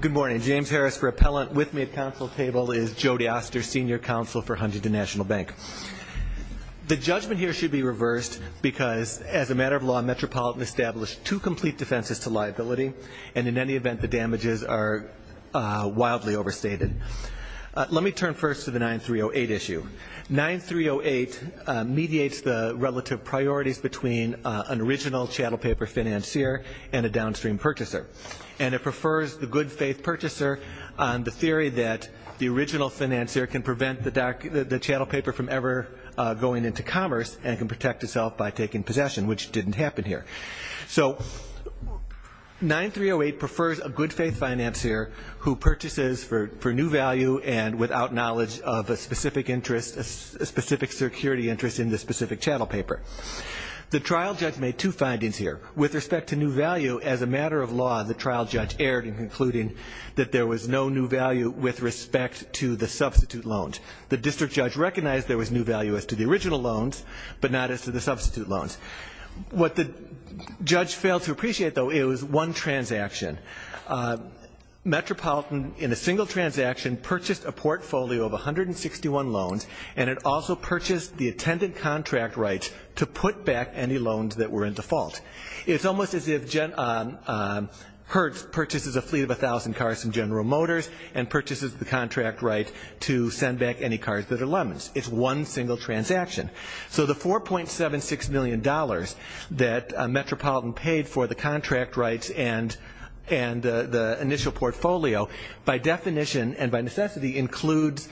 Good morning. James Harris for Appellant with me at Council Table is Jody Oster, Senior Counsel for Huntington National Bank. The judgment here should be reversed because as a matter of law Metropolitan established two complete defenses to liability and in any event the damages are wildly overstated. Let me turn first to the 9308 issue. 9308 mediates the relative priorities between an original chattel paper financier and a downstream purchaser. And it prefers the good faith purchaser on the theory that the original financier can prevent the chattel paper from ever going into commerce and can protect itself by taking possession which didn't happen here. So 9308 prefers a good faith financier who purchases for new value and without knowledge of a specific interest, a specific security interest in the specific chattel paper. The trial judge made two findings here. With respect to new law the trial judge erred in concluding that there was no new value with respect to the substitute loans. The district judge recognized there was new value as to the original loans but not as to the substitute loans. What the judge failed to appreciate though it was one transaction. Metropolitan in a single transaction purchased a portfolio of 161 loans and it also purchased the attendant contract rights to put back any loans that were in default. It's almost as if Hertz purchases a fleet of a thousand cars from General Motors and purchases the contract right to send back any cars that are lemons. It's one single transaction. So the $4.76 million that Metropolitan paid for the contract rights and the initial portfolio by definition and by necessity includes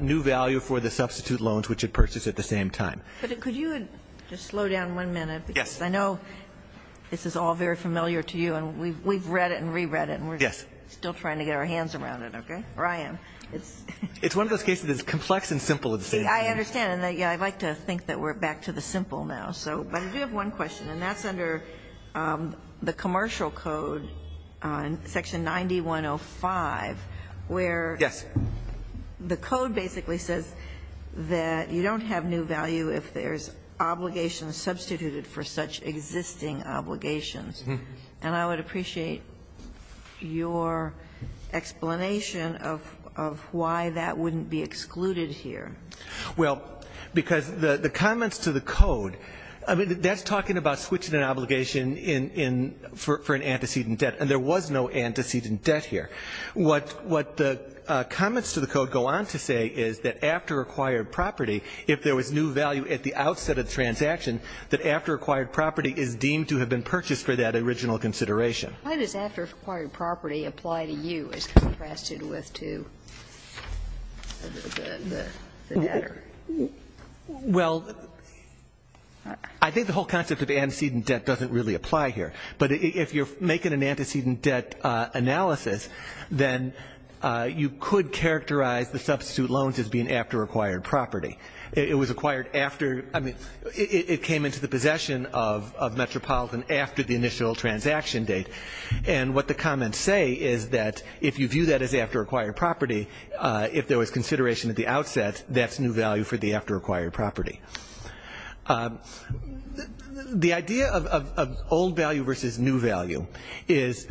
new value for the substitute loans which it purchased at the same time. But could you just slow down one minute because I know this is all very familiar to you and we've read it and re-read it and we're still trying to get our hands around it, okay? Brian. It's one of those cases that's complex and simple at the same time. I understand and I'd like to think that we're back to the simple now. But I do have one question and that's under the commercial code on section 9105 where the code basically says that you don't have new value if there's obligations substituted for such existing obligations. And I would appreciate your explanation of why that wouldn't be excluded here. Well, because the comments to the code, I mean, that's talking about switching an obligation in, for an antecedent debt and there was no antecedent debt here. What the comments to the code go on to say is that after acquired property, if there was new value at the outset of the transaction, that after acquired property is deemed to have been purchased for that original consideration. Why does after acquired property apply to you as contrasted with to the debtor? Well, I think the whole concept of antecedent debt doesn't really apply here. But if you're making an antecedent debt analysis, then you could characterize the substitute loans as being after acquired property. It was acquired after, I mean, it came into the possession of Metropolitan after the initial transaction date. And what the comments say is that if you view that as after acquired property, if there was consideration at the outset, that's new value for the after acquired property. The idea of old value versus new value is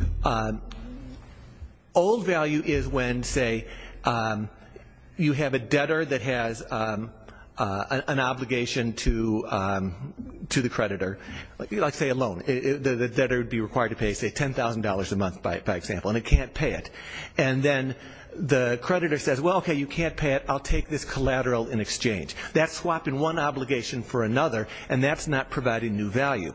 old value is when, say, you have a debtor that has an obligation to the creditor, like, say, a loan. The debtor would be required to pay, say, $10,000 a month, by example, and it can't pay it. And then the creditor says, well, okay, you can't pay it. I'll take this collateral in exchange. That's swapping one obligation for another, and that's not providing new value.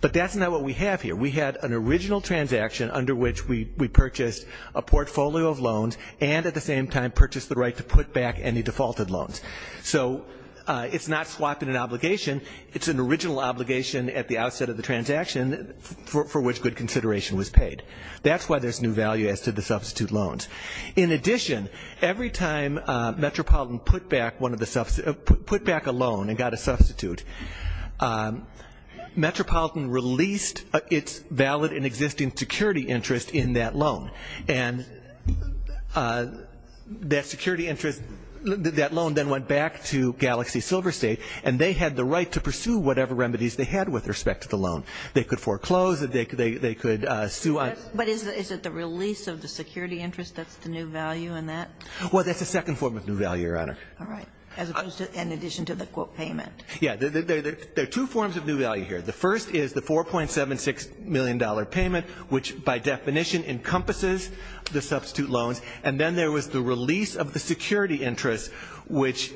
But that's not what we have here. We had an original transaction under which we purchased a portfolio of loans and at the same time purchased the right to put back any defaulted loans. So it's not swapping an obligation. It's an original obligation at the outset of the transaction for which good consideration was paid. That's why there's new value as to the substitute loans. In addition, every time Metropolitan put back a loan and got a substitute, Metropolitan released its valid and existing security interest in that loan. And that security interest, that loan then went back to Galaxy Silver State, and they had the right to pursue whatever remedies they had with respect to the loan. They could foreclose, they could sue on But is it the release of the security interest that's the new value in that? Well, that's the second form of new value, Your Honor. All right. As opposed to, in addition to the quote payment. Yeah. There are two forms of new value here. The first is the $4.76 million payment, which by definition encompasses the substitute loans. And then there was the release of the security interest, which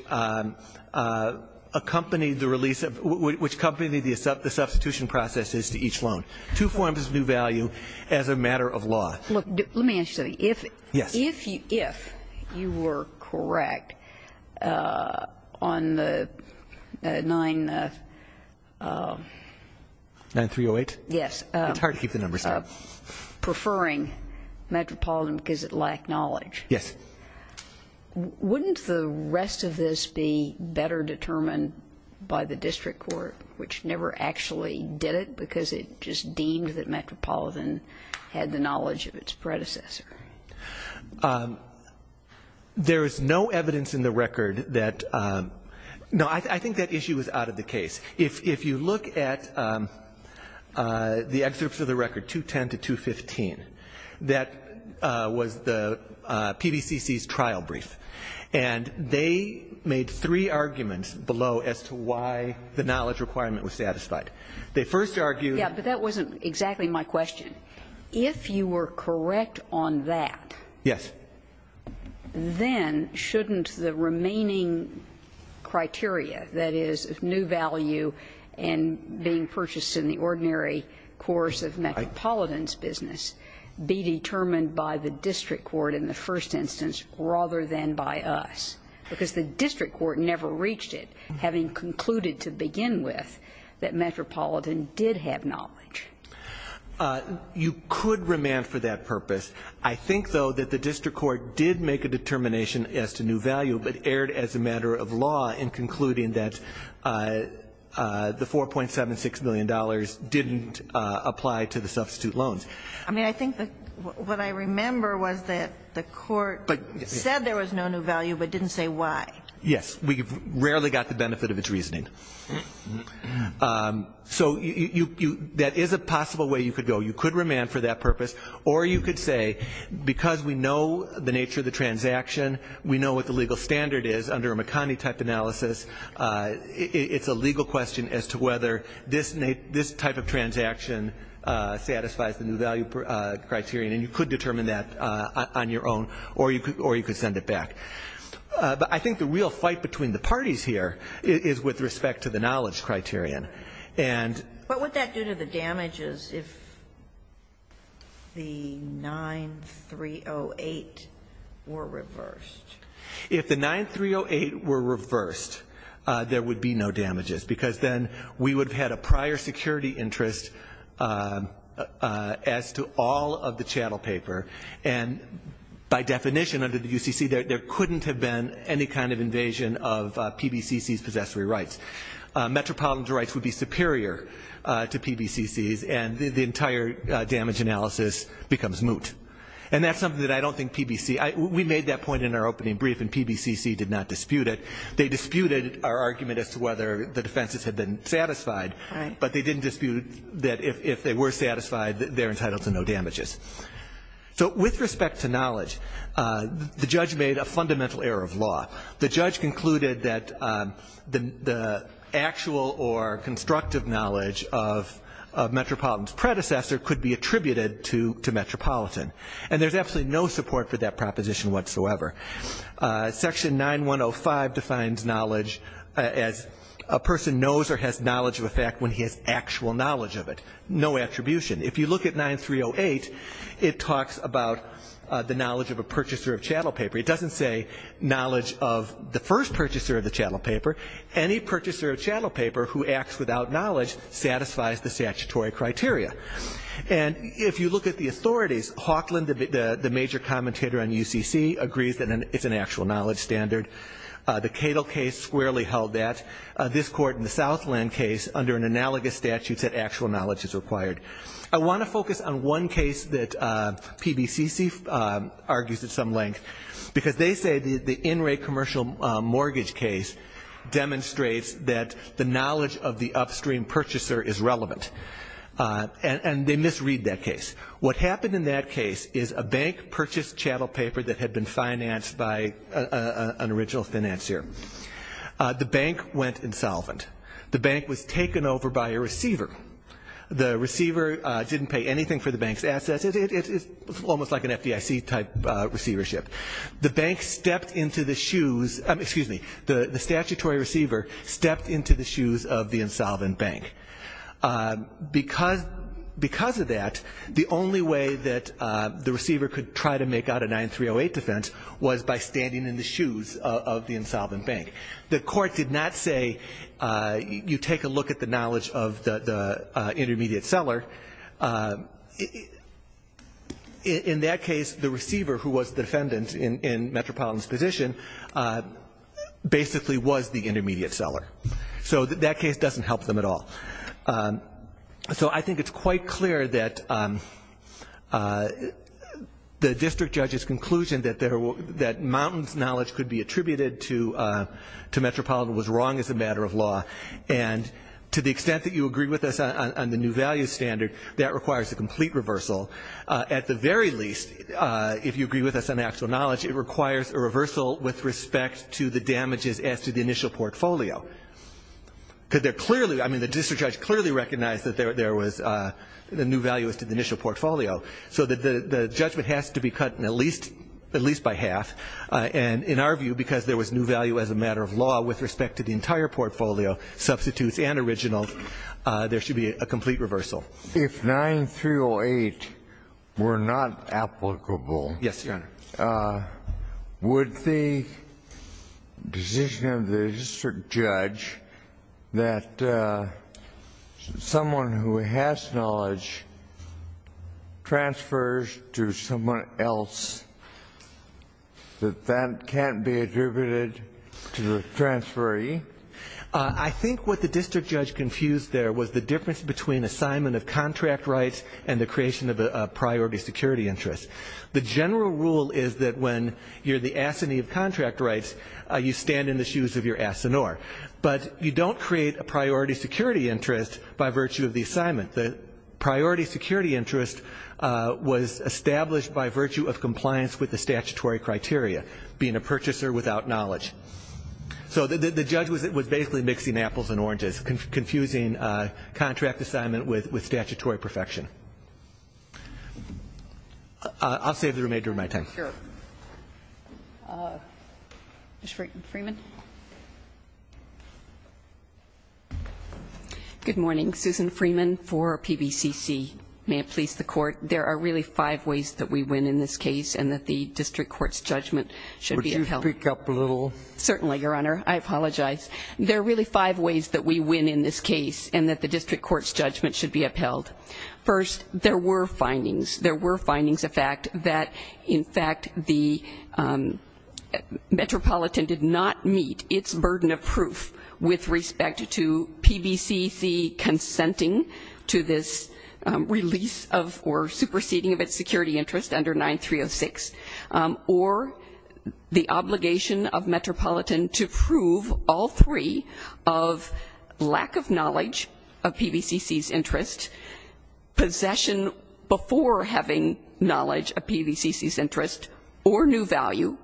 accompanied the release of, which accompanied the substitution processes to each loan. Two forms of new value as a matter of law. Look, let me ask you something. If you were correct on the 9... 9308? Yes. It's hard to keep the numbers down. Preferring Metropolitan because it lacked knowledge. Yes. Wouldn't the rest of this be better determined by the district court, which never actually did it because it just deemed that Metropolitan had the knowledge of its predecessor? There is no evidence in the record that... No, I think that issue is out of the case. If you look at the excerpts of the record, 210 to 215, that was the PVCC's trial brief. And they made three arguments below as to why the knowledge requirement was satisfied. They first argued... Yeah, but that wasn't exactly my question. If you were correct on that... Yes. ...then shouldn't the remaining criteria, that is, new value and being purchased in the ordinary course of Metropolitan's business, be determined by the district court in the first instance rather than by us? Because the district court never reached it, having concluded to begin with that Metropolitan did have knowledge. You could remand for that purpose. I think, though, that the district court did make a determination as to new value but erred as a matter of law in concluding that the $4.76 million didn't apply to the substitute loans. I mean, I think what I remember was that the court said there was no new value but didn't say why. Yes. We've rarely got the benefit of its reasoning. So that is a possible way you could go. You could remand for that purpose. Or you could say, because we know the nature of the transaction, we know what the legal standard is under a McConney-type analysis, it's a legal question as to whether this type of transaction satisfies the new value criterion. And you could determine that on your own or you could send it back. But I think the real fight between the parties here is with respect to the knowledge criterion. And What would that do to the damages if the 9308 were reversed? If the 9308 were reversed, there would be no damages because then we would have had a prior security interest as to all of the chattel paper. And by definition under the UCC, there couldn't have been any kind of invasion of PBCC's possessory rights. Metropolitan's rights would be superior to PBCC's and the entire damage analysis becomes moot. And that's something that I don't think PBC, we made that point in our opening brief and PBCC did not dispute it. They disputed our argument as to whether the defenses had been satisfied. But they didn't dispute that if they were satisfied, they're entitled to no damages. So with respect to knowledge, the judge made a fundamental error of law. The judge concluded that the actual or constructive knowledge of Metropolitan's predecessor could be attributed to Metropolitan. And there's absolutely no support for that proposition whatsoever. Section 9105 defines knowledge as a person knows or has knowledge of a fact when he has actual knowledge of it. No attribution. If you look at 9308, it talks about the knowledge of a purchaser of chattel paper. It doesn't say knowledge of the first purchaser of the chattel paper. Any purchaser of chattel paper who acts without knowledge satisfies the statutory criteria. And if you look at the authorities, Hawkland, the major commentator on UCC, agrees that it's an actual knowledge standard. The Cato case squarely held that. This court in the Southland case, under an analogous statute, said actual knowledge is required. I want to focus on one case that PBCC argues at some length because they say the in-rate commercial mortgage case demonstrates that the knowledge of the upstream purchaser is relevant. And they misread that case. What happened in that case is a bank purchased chattel paper that had been financed by an original financier. The bank went insolvent. The bank was taken over by a receiver. The receiver didn't pay anything for the bank's assets. It's almost like an FDIC type receivership. The bank stepped into the shoes, excuse me, the statutory receiver stepped into the shoes of the insolvent bank. Because of that, the only way that the receiver could try to make out a 9308 defense was by standing in the shoes of the insolvent bank. The court did not say you take a look at the knowledge of the intermediate seller. In that case, the receiver, who was the defendant in Metropolitan's position, basically was the intermediate seller. So that case doesn't help them at all. So I think it's quite clear that the district judge's conclusion that Mountain's knowledge could be attributed to Metropolitan was wrong as a matter of law. And to the extent that you agree with us on the new value standard, that requires a complete reversal. At the very least, if you agree with us on actual knowledge, it requires a reversal with respect to the damages as to the initial portfolio. Because they're clearly, I mean, the district judge clearly recognized that there was a new value as to the initial portfolio. So the judgment has to be cut at least by half. And in our view, because there was new value as a matter of law with respect to the entire portfolio, substitutes and originals, there should be a complete reversal. If 9308 were not applicable. Yes, Your Honor. Would the decision of the district judge that someone who has knowledge transfers to someone else, that that can't be attributed to the transferee? I think what the district judge confused there was the difference between assignment of contract rights and the creation of a priority security interest. The general rule is that when you're the assinee of contract rights, you stand in the shoes of your assenor. But you don't create a priority security interest by virtue of the assignment. The priority security interest was established by virtue of compliance with the statutory criteria, being a purchaser without knowledge. So the judge was basically mixing apples and oranges, confusing contract assignment with statutory perfection. I'll save the remainder of my time. Sure. Ms. Freeman. Good morning. Susan Freeman for PBCC. May it please the Court. There are really five ways that we win in this case and that the district court's judgment should be upheld. Would you speak up a little? Certainly, Your Honor. I apologize. There are really five ways that we win in this case and that the district court's judgment should be upheld. First, the district court's judgment. Second, first, there were findings. There were findings of fact that, in fact, the Metropolitan did not meet its burden of proof with respect to PBCC consenting to this release of or superseding of its security interest under 9306 or the obligation of Metropolitan to prove all three of lack of knowledge of PBCC's interest possession before having knowledge of PBCC's interest or new value.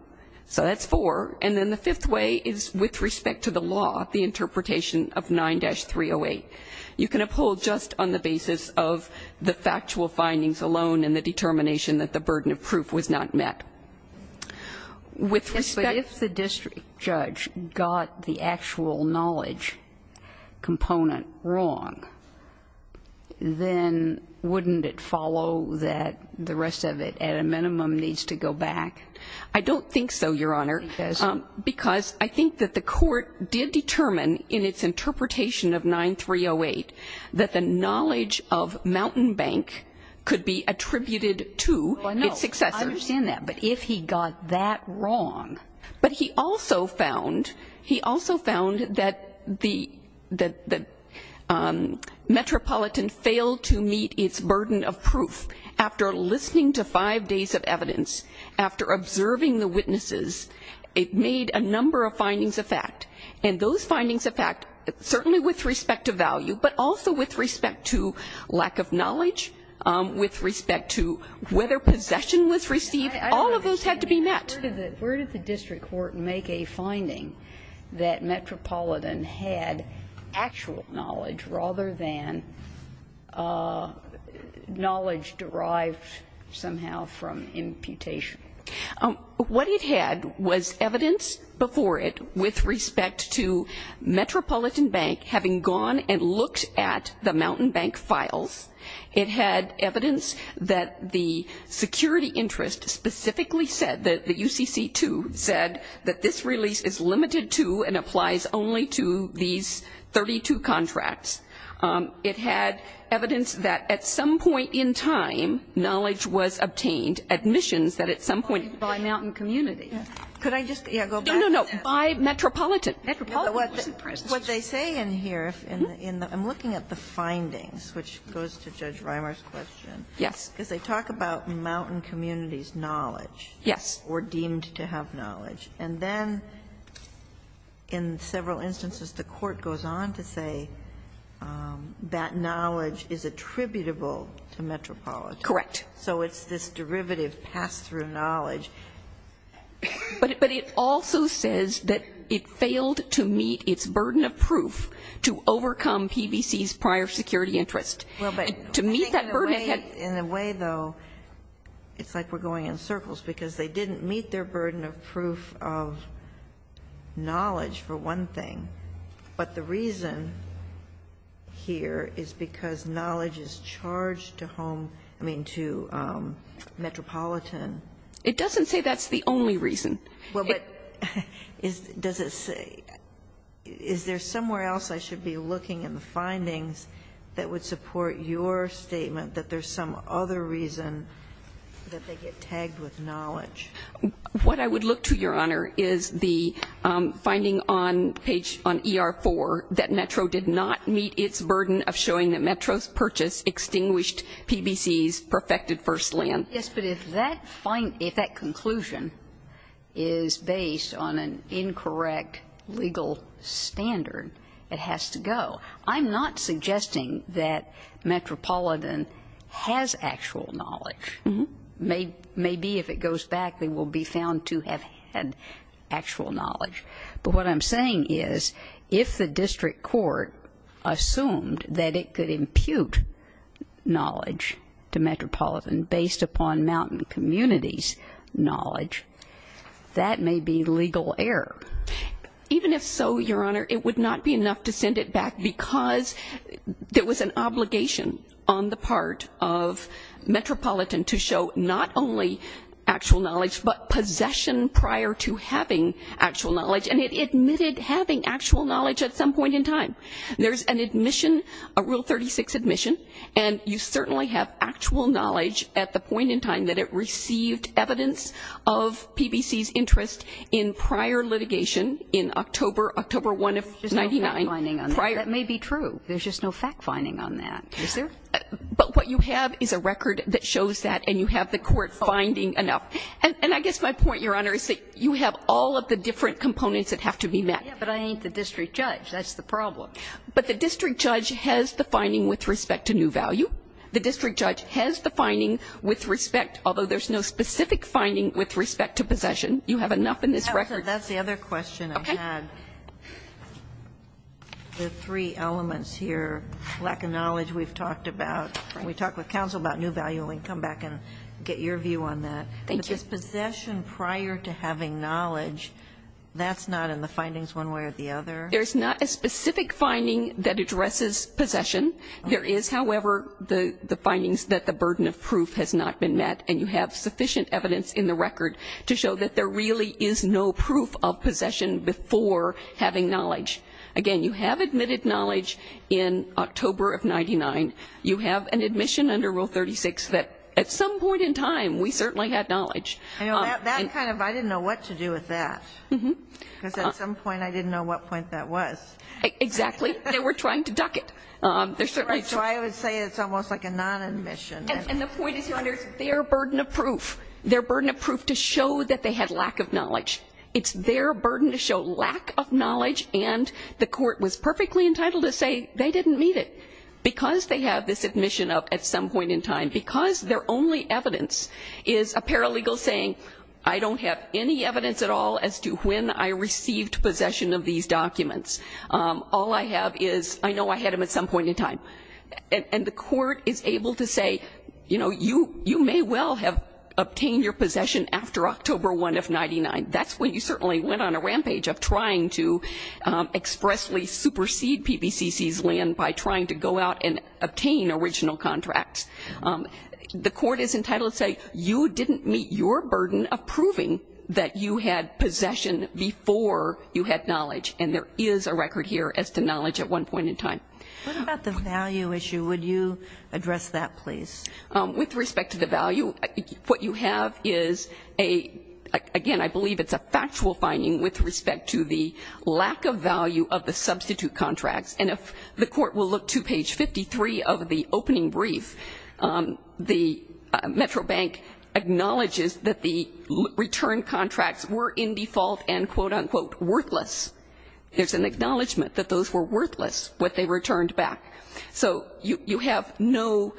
So that's four. And then the fifth way is with respect to the law, the interpretation of 9-308. You can uphold just on the basis of the factual findings alone and the determination that the burden of proof was not met. With respect to the district judge got the actual knowledge component wrong, then wouldn't it follow that the rest of it, at a minimum, needs to go back? I don't think so, Your Honor. Because? Because I think that the court did determine in its interpretation of 9-308 that the knowledge of Mountain Bank could be attributed to its successor. No, I understand that. But if he got that wrong? But he also found, he also found that the Metropolitan failed to meet its burden of proof. After listening to five days of evidence, after observing the witnesses, it made a number of findings of fact. And those findings of fact, certainly with respect to value, but also with respect to lack of knowledge, with respect to whether possession was received, all of those had to be met. Where did the district court make a finding that Metropolitan had actual knowledge rather than knowledge derived somehow from imputation? What it had was evidence before it with respect to Metropolitan Bank having gone and looked at the Mountain Bank files. It had evidence that the security interest specifically said, that the UCC-2 said that this release is limited to and applies only to these 32 contracts. It had evidence that at some point in time, knowledge was obtained, admissions that at some point by Mountain Community. Could I just, yeah, go back to that? No, no, no. By Metropolitan. Metropolitan wasn't pressed. What they say in here, I'm looking at the findings, which goes to Judge Rimer's question. Yes. Because they talk about Mountain Community's knowledge. Yes. Or deemed to have knowledge. And then in several instances, the court goes on to say that knowledge is attributable to Metropolitan. Correct. So it's this derivative pass-through knowledge. But it also says that it failed to meet its burden of proof to overcome PBC's prior security interest. Well, but. To meet that burden. In a way, though, it's like we're going in circles, because they didn't meet their burden of proof of knowledge, for one thing. But the reason here is because knowledge is charged to home, I mean, to Metropolitan. It doesn't say that's the only reason. Well, but is, does it say, is there somewhere else I should be looking in the findings that would support your statement that there's some other reason that they get tagged with knowledge? What I would look to, Your Honor, is the finding on page, on ER4, that Metro did not meet its burden of showing that Metro's purchase extinguished PBC's perfected first land. Yes, but if that conclusion is based on an incorrect legal standard, it has to go. I'm not suggesting that Metropolitan has actual knowledge. Maybe if it goes back, they will be found to have had actual knowledge. But what I'm saying is, if the district court assumed that it could impute knowledge to Metropolitan based upon Mountain Community's knowledge, that may be legal error. Even if so, Your Honor, it would not be enough to send it back, because there was an obligation on the part of Metropolitan to show not only actual knowledge, but possession prior to having actual knowledge. And it admitted having actual knowledge at some point in time. There's an admission, a Rule 36 admission, and you certainly have actual knowledge at the point in time that it received evidence of PBC's interest in prior litigation in October 1 of 1999. There's just no fact-finding on that. That may be true. There's just no fact-finding on that. Is there? But what you have is a record that shows that, and you have the court finding enough. And I guess my point, Your Honor, is that you have all of the different components that have to be met. Yeah, but I ain't the district judge. That's the problem. But the district judge has the finding with respect to new value. The district judge has the finding with respect, although there's no specific finding with respect to possession. You have enough in this record. That's the other question I had. Okay. The three elements here, lack of knowledge we've talked about. When we talk with counsel about new value, we can come back and get your view on that. Thank you. But if there is possession prior to having knowledge, that's not in the findings one way or the other? There's not a specific finding that addresses possession. There is, however, the findings that the burden of proof has not been met. And you have sufficient evidence in the record to show that there really is no proof of possession before having knowledge. Again, you have admitted knowledge in October of 1999. You have an admission under Rule 36 that at some point in time, we certainly had knowledge. That kind of, I didn't know what to do with that. Because at some point, I didn't know what point that was. Exactly. They were trying to duck it. So I would say it's almost like a non-admission. And the point is, Your Honor, it's their burden of proof. Their burden of proof to show that they had lack of knowledge. It's their burden to show lack of knowledge, and the court was perfectly entitled to say they didn't meet it. Because they have this admission of at some point in time, because their only evidence is a paralegal saying, I don't have any evidence at all as to when I received possession of these documents. All I have is, I know I had them at some point in time. And the court is able to say, you know, you may well have obtained your possession after October 1 of 1999. That's when you certainly went on a rampage of trying to expressly supersede PBCC's land by trying to go out and obtain original contracts. The court is entitled to say, you didn't meet your burden of proving that you had possession before you had knowledge. And there is a record here as to knowledge at one point in time. What about the value issue? Would you address that, please? With respect to the value, what you have is a, again, I believe it's a factual finding with respect to the lack of value of the substitute contracts. And if the court will look to page 53 of the opening brief, the Metro Bank acknowledges that the return contracts were in default and, quote, unquote, worthless. There's an acknowledgment that those were worthless what they returned back. So you have no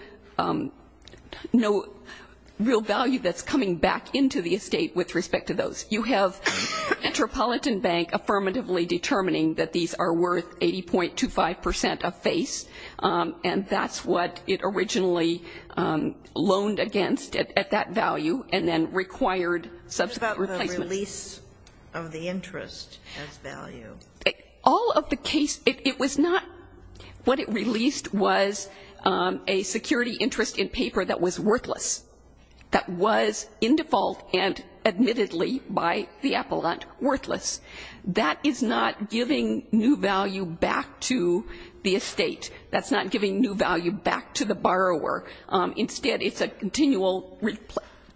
real value that's coming back into the estate with respect to those. You have Metropolitan Bank affirmatively determining that these are worth 80.25 percent of face. And that's what it originally loaned against at that value and then required substitute replacement. What about the release of the interest as value? All of the case, it was not what it released was a security interest in paper that was worthless, that was in default and admittedly by the appellant worthless. That is not giving new value back to the estate. That's not giving new value back to the borrower. Instead, it's a continual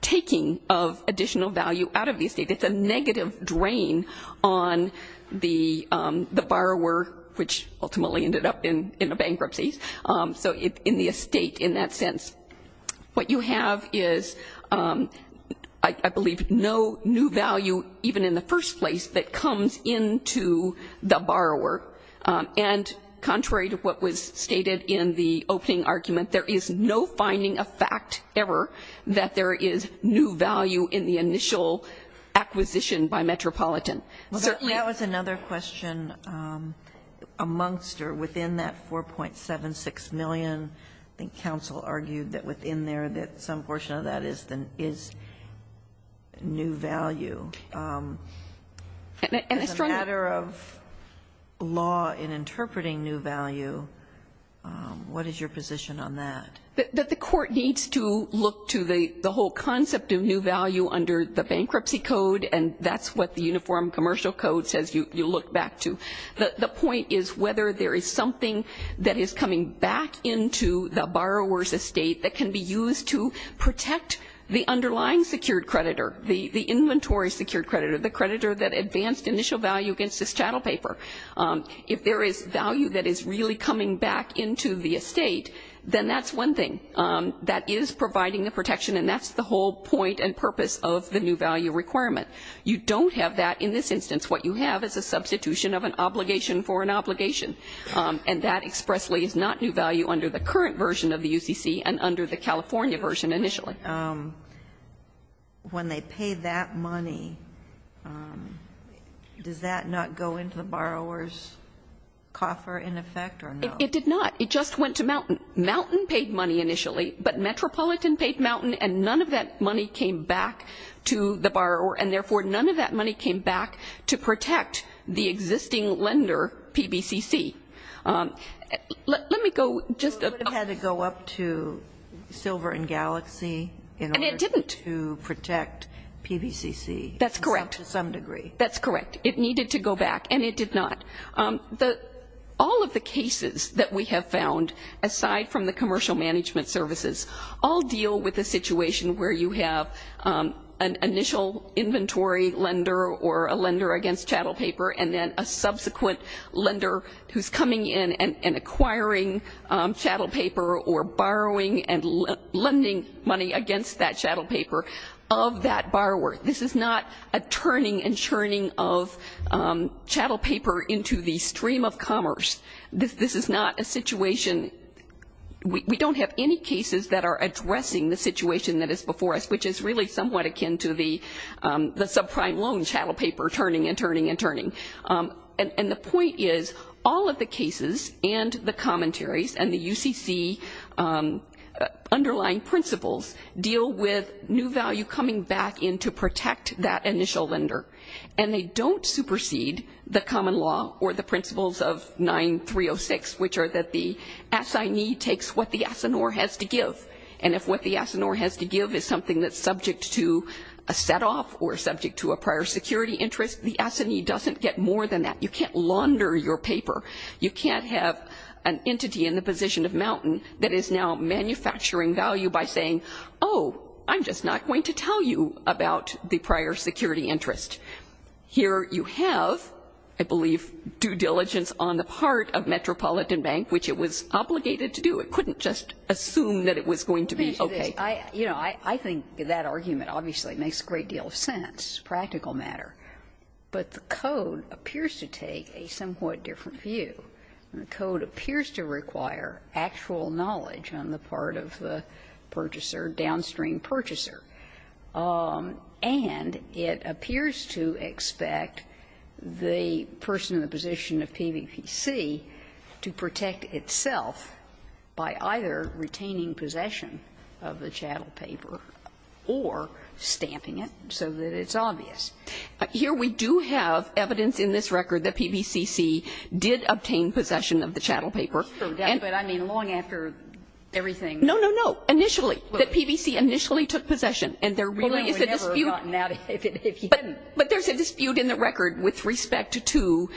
taking of additional value out of the estate. It's a negative drain on the borrower, which ultimately ended up in a bankruptcy. So in the estate in that sense. What you have is, I believe, no new value even in the first place that comes into the borrower. And contrary to what was stated in the opening argument, there is no finding of fact ever that there is new value in the initial acquisition by Metropolitan. That was another question amongst or within that 4.76 million. I think counsel argued that within there that some portion of that is new value. As a matter of law in interpreting new value, what is your position on that? The court needs to look to the whole concept of new value under the bankruptcy code and that's what the uniform commercial code says you look back to. The point is whether there is something that is coming back into the borrower's estate that can be used to protect the underlying secured creditor, the inventory secured creditor, the creditor that advanced initial value against this chattel paper. If there is value that is really coming back into the estate, then that's one thing. That is providing the protection and that's the whole point and purpose of the new value requirement. You don't have that in this instance. What you have is a substitution of an obligation for an obligation and that expressly is not new value under the current version of the UCC and under the California version initially. When they pay that money, does that not go into the borrower's coffer in effect or no? It did not. It just went to Mountain. Mountain paid money initially but Metropolitan paid Mountain and none of that money came back to protect the existing lender, PBCC. Let me go just a... It would have had to go up to Silver and Galaxy in order to protect PBCC. And it didn't. That's correct. To some degree. That's correct. It needed to go back and it did not. All of the cases that we have found, aside from the commercial management services, all deal with a situation where you have an initial inventory lender or a lender against chattel paper and then a subsequent lender who's coming in and acquiring chattel paper or borrowing and lending money against that chattel paper of that borrower. This is not a turning and churning of chattel paper into the stream of commerce. This is not a situation... We don't have any cases that are addressing the situation that is before us, which is really somewhat akin to the subprime loan chattel paper turning and turning and turning. And the point is all of the cases and the commentaries and the UCC underlying principles deal with new value coming back in to protect that initial lender. And they don't supersede the common law or the principles of 9306, which are that the assignee takes what the assignor has to give. And if what the assignor has to give is something that's subject to a set-off or subject to a prior security interest, the assignee doesn't get more than that. You can't launder your paper. You can't have an entity in the position of Mountain that is now manufacturing value by saying, oh, I'm just not going to tell you about the prior security interest. Here you have, I believe, due diligence on the part of Metropolitan Bank, which it was obligated to do. It couldn't just assume that it was going to be okay. I think that argument obviously makes a great deal of sense, practical matter. But the code appears to take a somewhat different view. The code appears to require actual knowledge on the part of the purchaser, downstream purchaser. And it appears to expect the person in the position of PVPC to protect itself by either retaining possession of the chattel paper or stamping it, so that it's obvious. Here we do have evidence in this record that PVCC did obtain possession of the chattel paper. But I mean, long after everything. No, no, no. Initially. That PVCC initially took possession. And there really is a dispute. Well, we would never have gotten out of it if you hadn't. But there's a dispute in the record with respect to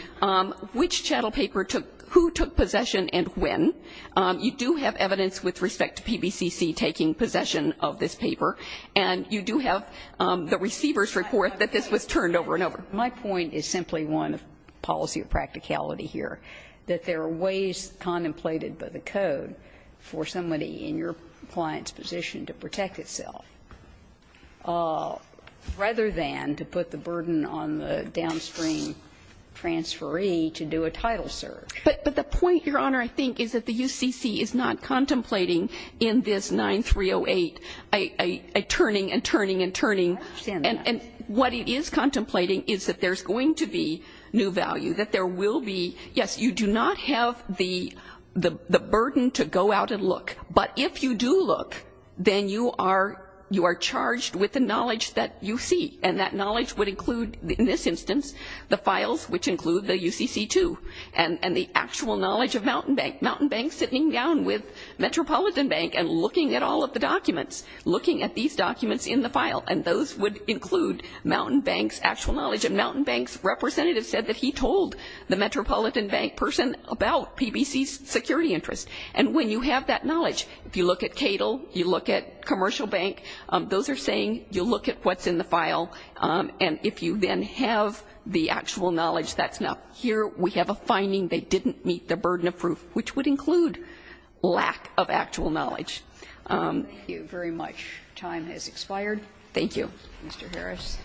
which chattel paper took, who took possession and when. You do have evidence with respect to PVCC taking possession of this paper. And you do have the receiver's report that this was turned over and over. My point is simply one of policy of practicality here, that there are ways contemplated by the code for somebody in your client's position to protect itself, rather than to put the burden on the downstream transferee to do a title serve. But the point, Your Honor, I think is that the UCC is not contemplating in this 9308 a turning and turning and turning. I understand that. And what it is contemplating is that there's going to be new value. That there will be. Yes, you do not have the burden to go out and look. But if you do look, then you are charged with the knowledge that you see. And that knowledge would include, in this instance, the files which include the UCC2 and the actual knowledge of Mountain Bank. Mountain Bank sitting down with Metropolitan Bank and looking at all of the documents, looking at these documents in the file, and those would include Mountain Bank's actual knowledge. And Mountain Bank's representative said that he told the Metropolitan Bank person about PBC's security interest. And when you have that knowledge, if you look at CATL, you look at Commercial Bank, those are saying you look at what's in the file. And if you then have the actual knowledge, that's enough. Here we have a finding. They didn't meet the burden of proof, which would include lack of actual knowledge. Thank you very much. Time has expired. Thank you. Mr. Harris.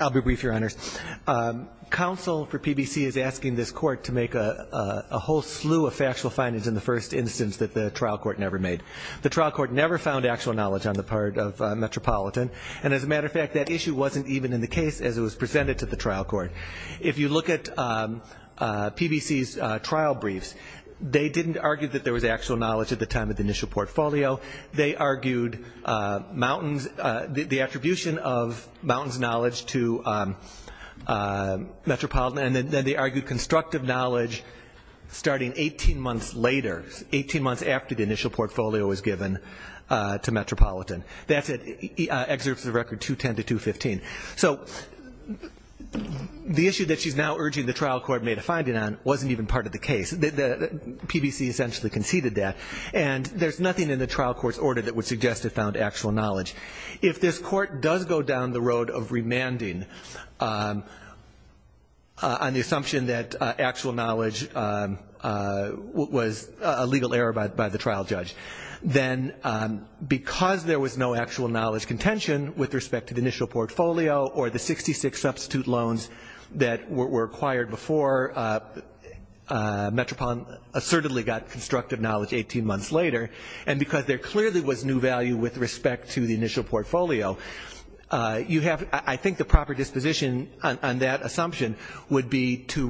I'll be brief, Your Honors. Counsel for PBC is asking this Court to make a whole slew of factual findings in the first instance that the trial court never made. The trial court never found actual knowledge on the part of Metropolitan. And as a matter of fact, that issue wasn't even in the case as it was presented to the trial court. If you look at PBC's trial briefs, they didn't argue that there was actual knowledge at the time of the initial portfolio. They argued the attribution of Mountain's knowledge to Metropolitan. And then they argued constructive knowledge starting 18 months later, 18 months after the initial portfolio was given to Metropolitan. That's at Excerpts of the Record 210-215. So the issue that she's now urging the trial court made a finding on wasn't even part of the case. PBC essentially conceded that. And there's nothing in the trial court's order that would suggest it found actual knowledge. If this Court does go down the road of remanding on the assumption that actual knowledge was a legal error by the trial judge, then because there was no actual knowledge contention with respect to the initial portfolio or the 66 substitute loans that were acquired before, Metropolitan assertedly got constructive knowledge 18 months later. And because there clearly was new value with respect to the initial portfolio, I think the proper disposition on that assumption would be to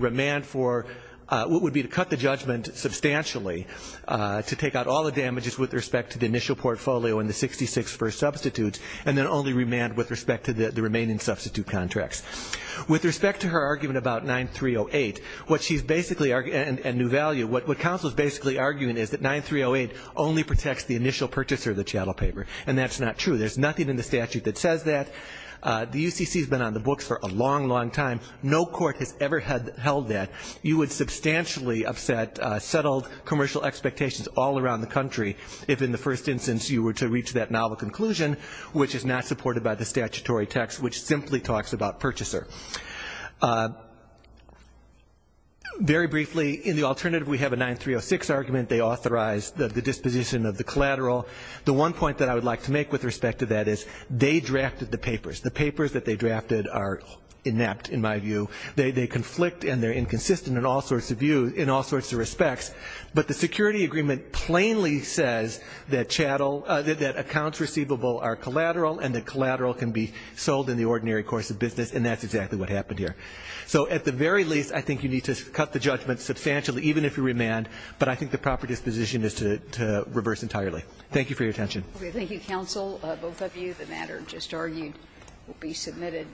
cut the judgment substantially to take out all the damages with respect to the initial portfolio and the 66 first substitutes and then only remand with respect to the remaining substitute contracts. With respect to her argument about 9308 and new value, what counsel is basically arguing is that 9308 only protects the initial purchaser of the chattel paper. And that's not true. There's nothing in the statute that says that. The UCC has been on the books for a long, long time. No court has ever held that. You would substantially upset settled commercial expectations all around the country if in the first instance you were to reach that novel conclusion which is not supported by the statutory text which simply talks about purchaser. Very briefly, in the alternative we have a 9306 argument. They authorize the disposition of the collateral. The one point that I would like to make with respect to that is they drafted the papers. The papers that they drafted are inept in my view. They conflict and they're inconsistent in all sorts of views, in all sorts of respects. But the security agreement plainly says that chattel, that accounts receivable are collateral and that collateral can be sold in the ordinary course of business and that's exactly what happened. So at the very least I think you need to cut the judgment substantially even if you remand. But I think the proper disposition is to reverse entirely. Thank you for your attention. Thank you, counsel. Both of you. The matter just argued will be submitted.